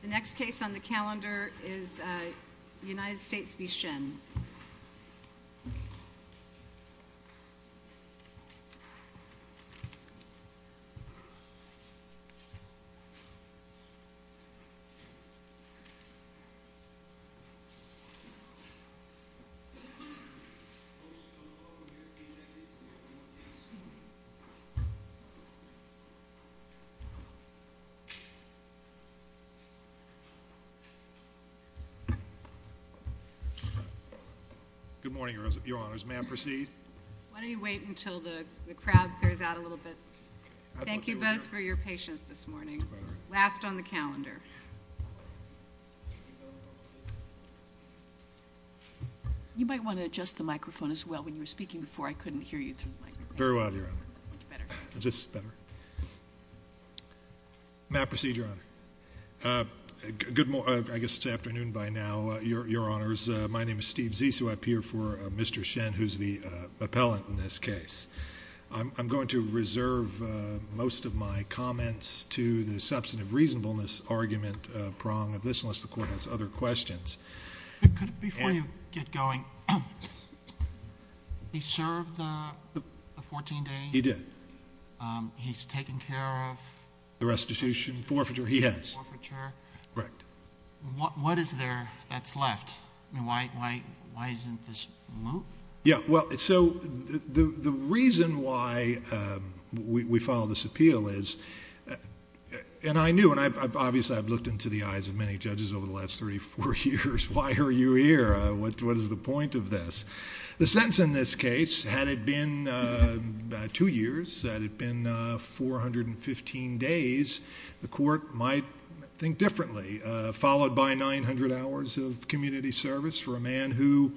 The next case on the calendar is United States v. Shin. Thank you both for your patience this morning. Last on the calendar. You might want to adjust the microphone as well when you were speaking before I couldn't hear you. Very well, Your Honor. Is this better? May I proceed, Your Honor? I guess it's afternoon by now, Your Honors. My name is Steve Zissou. I appear for Mr. Shin, who's the appellant in this case. I'm going to reserve most of my comments to the substantive reasonableness argument prong of this, unless the Court has other questions. Could, before you get going, he served the 14 days? He did. He's taken care of the restitution forfeiture? He has. Forfeiture? Right. What is there that's left? Why isn't this removed? The reason why we filed this appeal is, and I knew, and obviously I've looked into the eyes of many judges over the last thirty-four years, why are you here? What is the point of this? The sentence in this case, had it been two years, had it been 415 days, the Court might think differently, followed by 900 hours of community service for a man who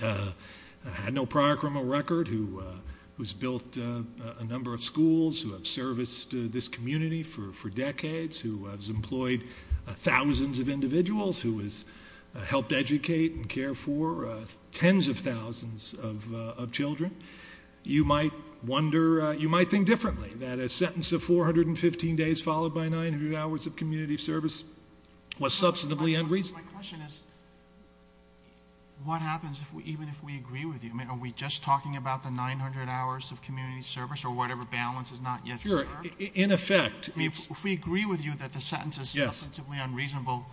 had no prior criminal record, who's built a number of schools, who have serviced this community for decades, who has employed thousands of individuals, who has helped educate and care for tens of thousands of children. You might wonder, you might think differently, that a sentence of 415 days followed by 900 hours of community service was substantively unreasonable. My question is, what happens even if we agree with you? I mean, are we just talking about the 900 hours of community service or whatever balance is not yet served? Sure. In effect. If we agree with you that the sentence is substantively unreasonable,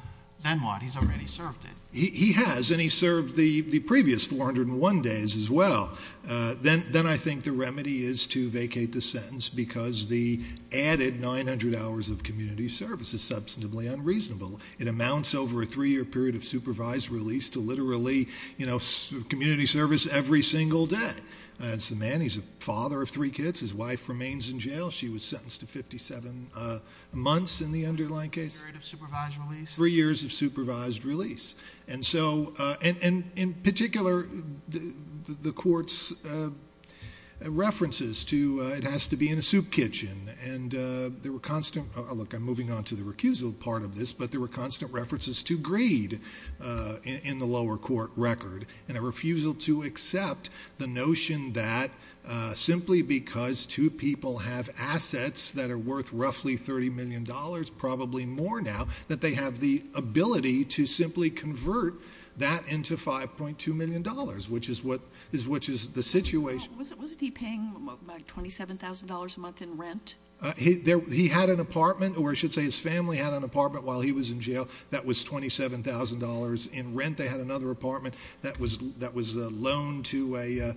then what? He's already served it. He has, and he served the previous 401 days as well. Then I think the remedy is to vacate the sentence because the added 900 hours of community service is substantively unreasonable. It amounts over a three-year period of supervised release to literally community service every single day. It's a man, he's a father of three kids, his wife remains in jail. She was sentenced to 57 months in the underlying case. A period of supervised release. Three years of supervised release. In particular, the court's references to, it has to be in a soup kitchen, and there were constant... Look, I'm moving on to the recusal part of this, but there were constant references to greed in the lower court record, and a refusal to accept the notion that simply because two people have assets that are worth roughly $30 million, probably more now, that they have the ability to simply convert that into $5.2 million, which is the situation. Wasn't he paying $27,000 a month in rent? He had an apartment, or I should say his family had an apartment while he was in jail that was $27,000 in rent. They had another apartment that was a loan to a...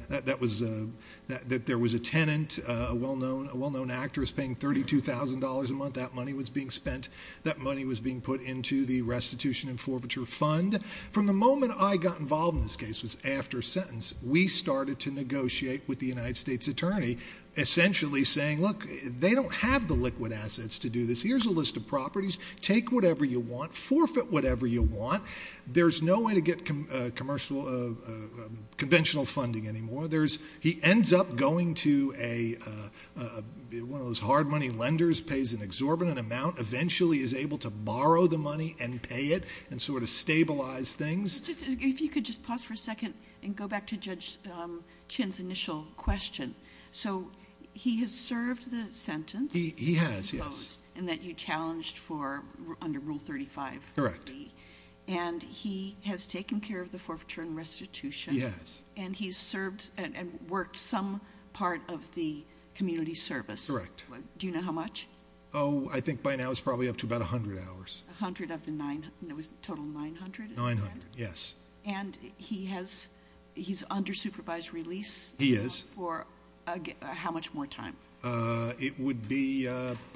That there was a tenant, a well-known actress paying $32,000 a month. That money was being spent. That money was being put into the restitution and forfeiture fund. From the moment I got involved in this case was after sentence, we started to negotiate with the United States attorney, essentially saying, look, they don't have the liquid assets to do this. Here's a list of properties. Take whatever you want. Forfeit whatever you want. There's no way to get conventional funding anymore. He ends up going to a... One of those hard money lenders pays an exorbitant amount, eventually is able to borrow the money and pay it, and sort of stabilize things. If you could just pause for a second and go back to Judge Chin's initial question. He has served the sentence- He has, yes. And that you challenged for under Rule 35- Correct.... C. He has taken care of the forfeiture and restitution- Yes.... and he's served and worked some part of the community service. Correct. Do you know how much? Oh, I think by now it's probably up to about 100 hours. 100 of the 900, and it was a total of 900 at the end? 900, yes. And he has... He's under supervised release- He is.... for how much more time? It would be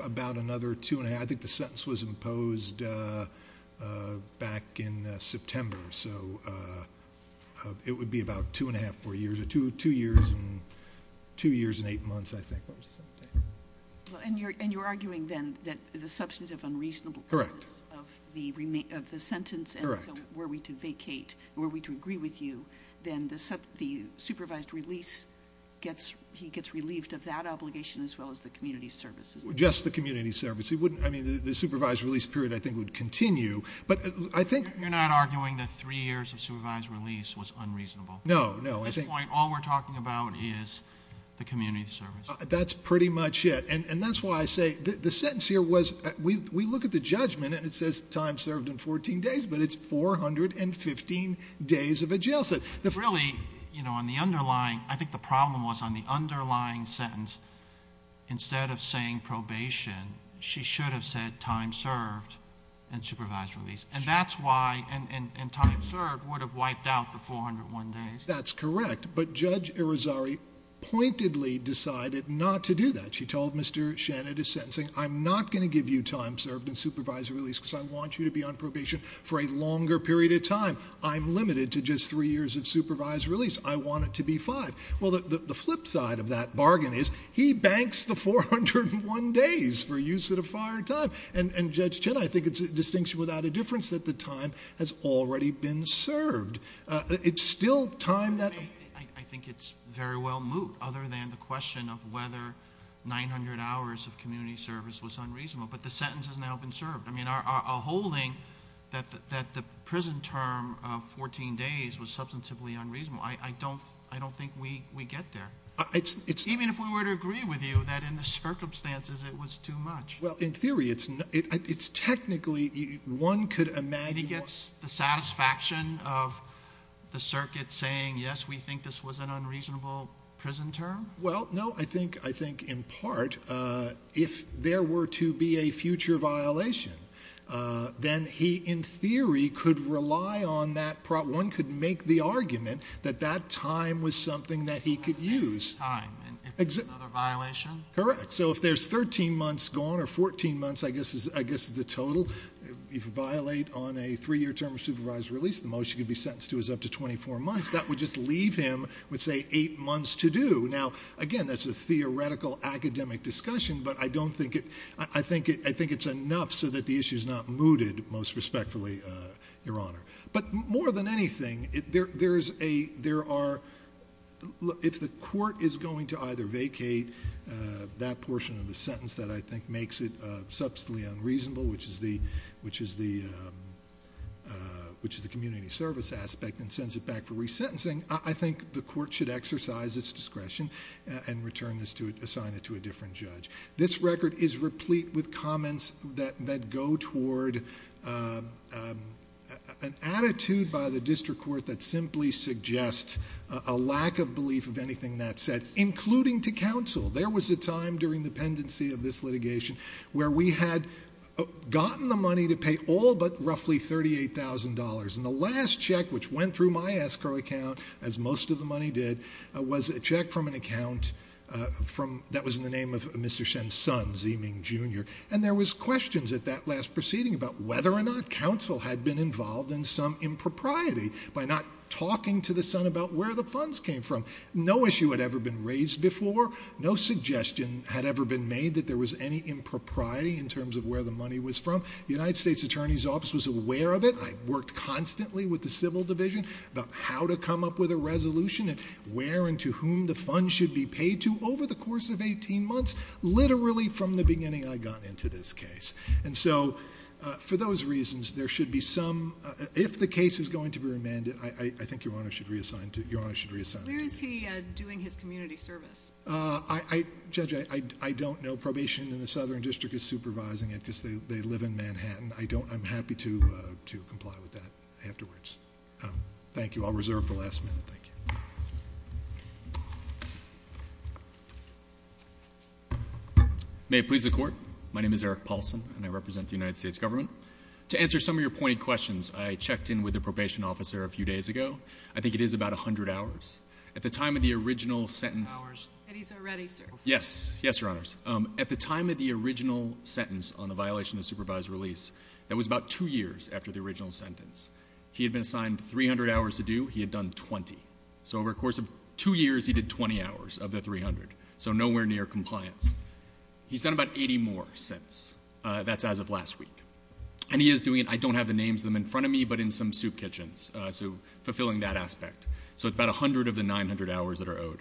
about another two and a half... I think the sentence was imposed back in September. So it would be about two and a half more years, or two years and eight months, I think. What was the sentence again? And you're arguing then that the substantive unreasonable- Correct.... of the sentence- Correct.... and so were we to vacate, were we to agree with you, then the supervised release gets... He gets relieved of that obligation as well as the community service, isn't he? Just the community service. He wouldn't... I mean, the supervised release period, I think, would continue, but I think- You're not arguing that three years of supervised release was unreasonable? No, no. At this point, all we're talking about is the community service. That's pretty much it, and that's why I say... The sentence here was... We look at the judgment, and it says time served in 14 days, but it's 415 days of a jail sentence. Really, on the underlying... I think the problem was on the underlying sentence, instead of saying probation, she should have said time served and supervised release, and that's why... And time served would have wiped out the 401 days. That's correct, but Judge Irizarry pointedly decided not to do that. She told Mr. Shannon, at his sentencing, I'm not going to give you time served and supervised release because I want you to be on probation for a longer period of time. I'm limited to just three years of supervised release. I want it to be five. The flip side of that bargain is he banks the 401 days for use at a fire time, and Judge Irizarry's time has already been served. It's still time that... I think it's very well moot, other than the question of whether 900 hours of community service was unreasonable, but the sentence has now been served. A holding that the prison term of 14 days was substantively unreasonable, I don't think we get there, even if we were to agree with you that in the circumstances, it was too much. Well, in theory, it's technically... One could imagine... He gets the satisfaction of the circuit saying, yes, we think this was an unreasonable prison term? Well, no. I think, in part, if there were to be a future violation, then he, in theory, could rely on that... One could make the argument that that time was something that he could use. That's time. Another violation? Correct. If there's 13 months gone, or 14 months, I guess, is the total, if you violate on a three-year term of supervised release, the motion could be sentenced to as up to 24 months. That would just leave him with, say, eight months to do. Now, again, that's a theoretical academic discussion, but I don't think it... I think it's enough so that the issue's not mooted, most respectfully, Your Honor. But more than anything, if the court is going to either vacate that portion of the sentence that I think makes it substantially unreasonable, which is the community service aspect and sends it back for resentencing, I think the court should exercise its discretion and return this to assign it to a different judge. This record is replete with comments that go toward an attitude by the district court that simply suggests a lack of belief of anything that's said, including to counsel. There was a time during the pendency of this litigation where we had gotten the money to pay all but roughly $38,000, and the last check, which went through my escrow account, as most of the money did, was a check from an account that was in the name of Mr. Shen's son, Ziming Jr., and there was questions at that last proceeding about whether or not counsel had been involved in some impropriety by not talking to the son about where the funds came from. No issue had ever been raised before. No suggestion had ever been made that there was any impropriety in terms of where the money was from. The United States Attorney's Office was aware of it. I worked constantly with the civil division about how to come up with a resolution and where and to whom the funds should be paid to over the course of 18 months, literally from the beginning I got into this case. And so, for those reasons, there should be some, if the case is going to be remanded, I think Your Honor should reassign it to me. Where is he doing his community service? Judge, I don't know. Probation in the Southern District is supervising it because they live in Manhattan. I'm happy to comply with that afterwards. Thank you. I'll reserve the last minute. Thank you. May it please the Court. My name is Eric Paulson and I represent the United States Government. To answer some of your pointed questions, I checked in with the probation officer a few days ago. I think it is about a hundred hours. At the time of the original sentence... Hours. It is already, sir. Yes. Yes, Your Honors. At the time of the original sentence on the violation of supervised release, that was about two years after the original sentence, he had been assigned 300 hours to do. He had done 20. So, over the course of two years, he did 20 hours of the 300, so nowhere near compliance. He's done about 80 more since. That's as of last week. And he is doing it, I don't have the names of them in front of me, but in some soup kitchens, so fulfilling that aspect. So it's about 100 of the 900 hours that are owed.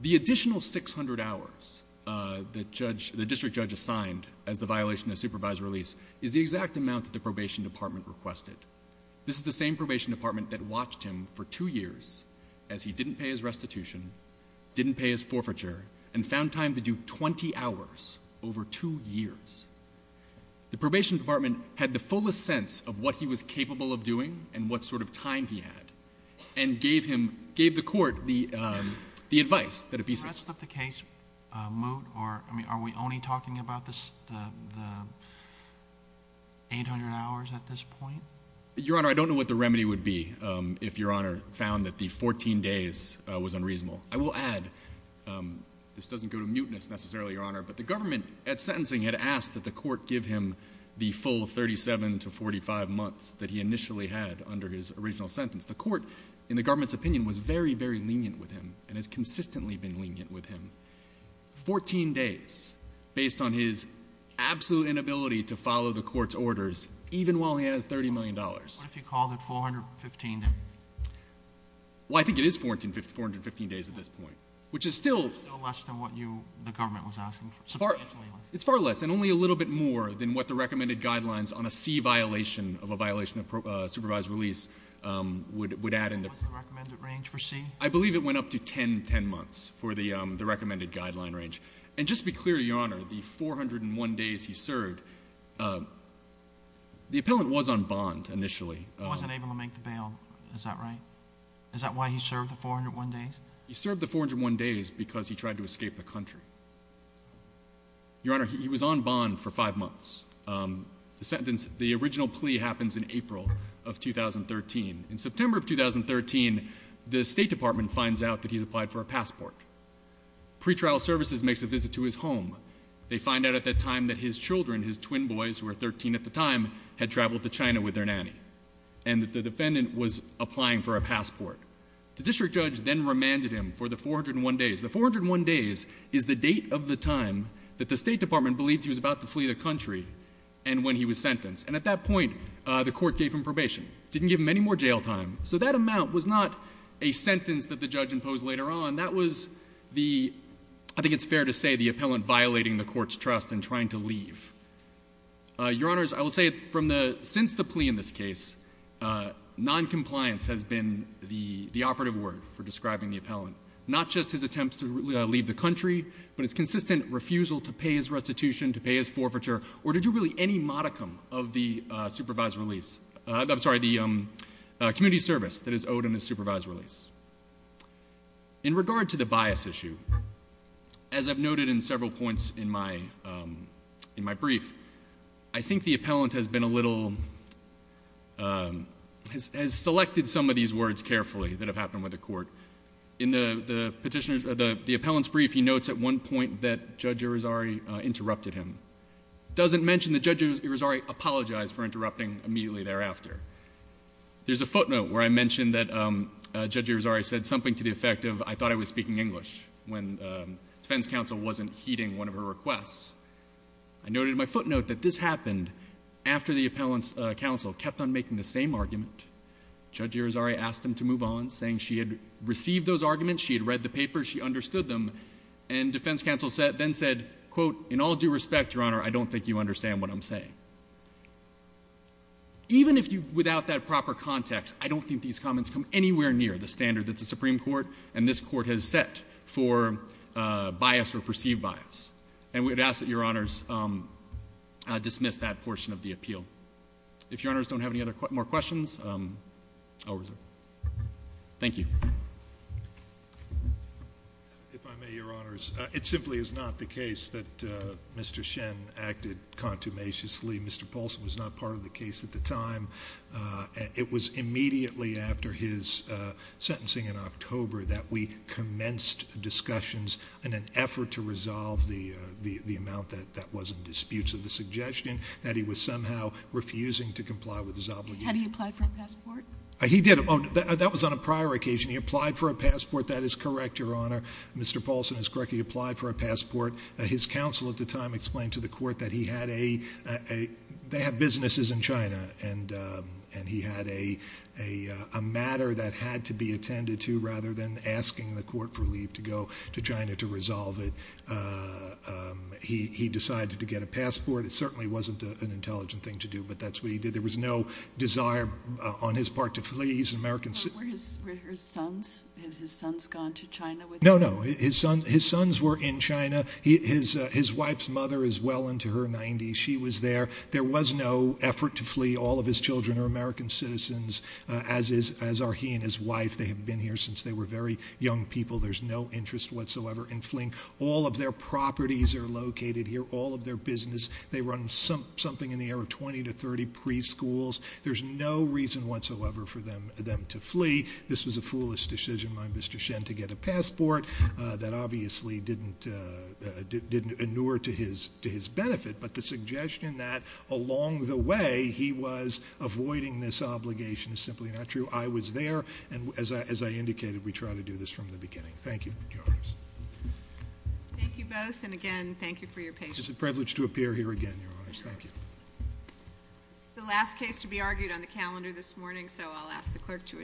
The additional 600 hours that the district judge assigned as the violation of supervised release is the exact amount that the probation department requested. This is the same probation department that watched him for two years as he didn't pay his restitution, didn't pay his forfeiture, and found time to do 20 hours over two years. The probation department had the fullest sense of what he was capable of doing and what sort of time he had, and gave him, gave the court the advice that it be so. The rest of the case, moot, or are we only talking about the 800 hours at this point? Your Honor, I don't know what the remedy would be if Your Honor found that the 14 days was unreasonable. I will add, this doesn't go to mootness necessarily, Your Honor, but the government at sentencing had asked that the court give him the full 37 to 45 months that he initially had under his original sentence. The court, in the government's opinion, was very, very lenient with him and has consistently been lenient with him. Fourteen days, based on his absolute inability to follow the court's orders, even while he has $30 million. What if you called it 415 days? Well, I think it is 415 days at this point, which is still less than what you, the government was asking for. It's far less, and only a little bit more than what the recommended guidelines on a C violation, of a violation of supervised release, would add in the... What's the recommended range for C? I believe it went up to 10, 10 months for the recommended guideline range. And just to be clear to Your Honor, the 401 days he served, the appellant was on bond initially. He wasn't able to make the bail, is that right? Is that why he served the 401 days? He served the 401 days because he tried to escape the country. Your Honor, he was on bond for five months. The original plea happens in April of 2013. In September of 2013, the State Department finds out that he's applied for a passport. Pretrial Services makes a visit to his home. They find out at that time that his children, his twin boys, who were 13 at the time, had traveled to China with their nanny, and that the defendant was applying for a passport. The district judge then remanded him for the 401 days. The 401 days is the date of the time that the State Department believed he was about to flee the country and when he was sentenced. And at that point, the court gave him probation. It didn't give him any more jail time. So that amount was not a sentence that the judge imposed later on. That was the, I think it's fair to say, the appellant violating the court's trust and trying to leave. Your Honors, I will say, since the plea in this case, noncompliance has been the operative word for describing the appellant. Not just his attempts to leave the country, but his consistent refusal to pay his restitution, to pay his forfeiture, or to do really any modicum of the supervised release, I'm sorry, the community service that is owed in a supervised release. In regard to the bias issue, as I've noted in several points in my brief, I think the appellant has been a little, has selected some of these words carefully that have happened with the court. In the petitioner's, the appellant's brief, he notes at one point that Judge Irizarry interrupted him. It doesn't mention that Judge Irizarry apologized for interrupting immediately thereafter. There's a footnote where I mentioned that Judge Irizarry said something to the effect of I thought I was speaking English when defense counsel wasn't heeding one of her requests. I noted in my footnote that this happened after the appellant's counsel kept on making the same argument. Judge Irizarry asked him to move on, saying she had received those arguments, she had In all due respect, Your Honor, I don't think you understand what I'm saying. Even if you, without that proper context, I don't think these comments come anywhere near the standard that the Supreme Court and this court has set for bias or perceived bias. And we would ask that Your Honors dismiss that portion of the appeal. If Your Honors don't have any other, more questions, I'll reserve. Thank you. If I may, Your Honors, it simply is not the case that Mr. Shen acted contumaciously. Mr. Paulson was not part of the case at the time. It was immediately after his sentencing in October that we commenced discussions in an effort to resolve the amount that was in dispute to the suggestion that he was somehow refusing to comply with his obligation. Had he applied for a passport? He did. He did. That was on a prior occasion. He applied for a passport. That is correct, Your Honor. Mr. Paulson is correct. He applied for a passport. His counsel at the time explained to the court that he had a, they have businesses in China, and he had a matter that had to be attended to rather than asking the court for leave to go to China to resolve it. He decided to get a passport. It certainly wasn't an intelligent thing to do, but that's what he did. There was no desire on his part to flee. He's an American citizen. Were his sons, had his sons gone to China with him? No, no. His sons were in China. His wife's mother is well into her 90s. She was there. There was no effort to flee. All of his children are American citizens, as are he and his wife. They have been here since they were very young people. There's no interest whatsoever in fleeing. All of their properties are located here, all of their business. They run something in the area of 20 to 30 preschools. There's no reason whatsoever for them to flee. This was a foolish decision by Mr. Shen to get a passport that obviously didn't inure to his benefit. But the suggestion that along the way, he was avoiding this obligation is simply not true. I was there, and as I indicated, we try to do this from the beginning. Thank you, Your Honors. Thank you both, and again, thank you for your patience. It's a privilege to appear here again, Your Honors. Thank you. It's the last case to be argued on the calendar this morning, so I'll ask the clerk to adjourn.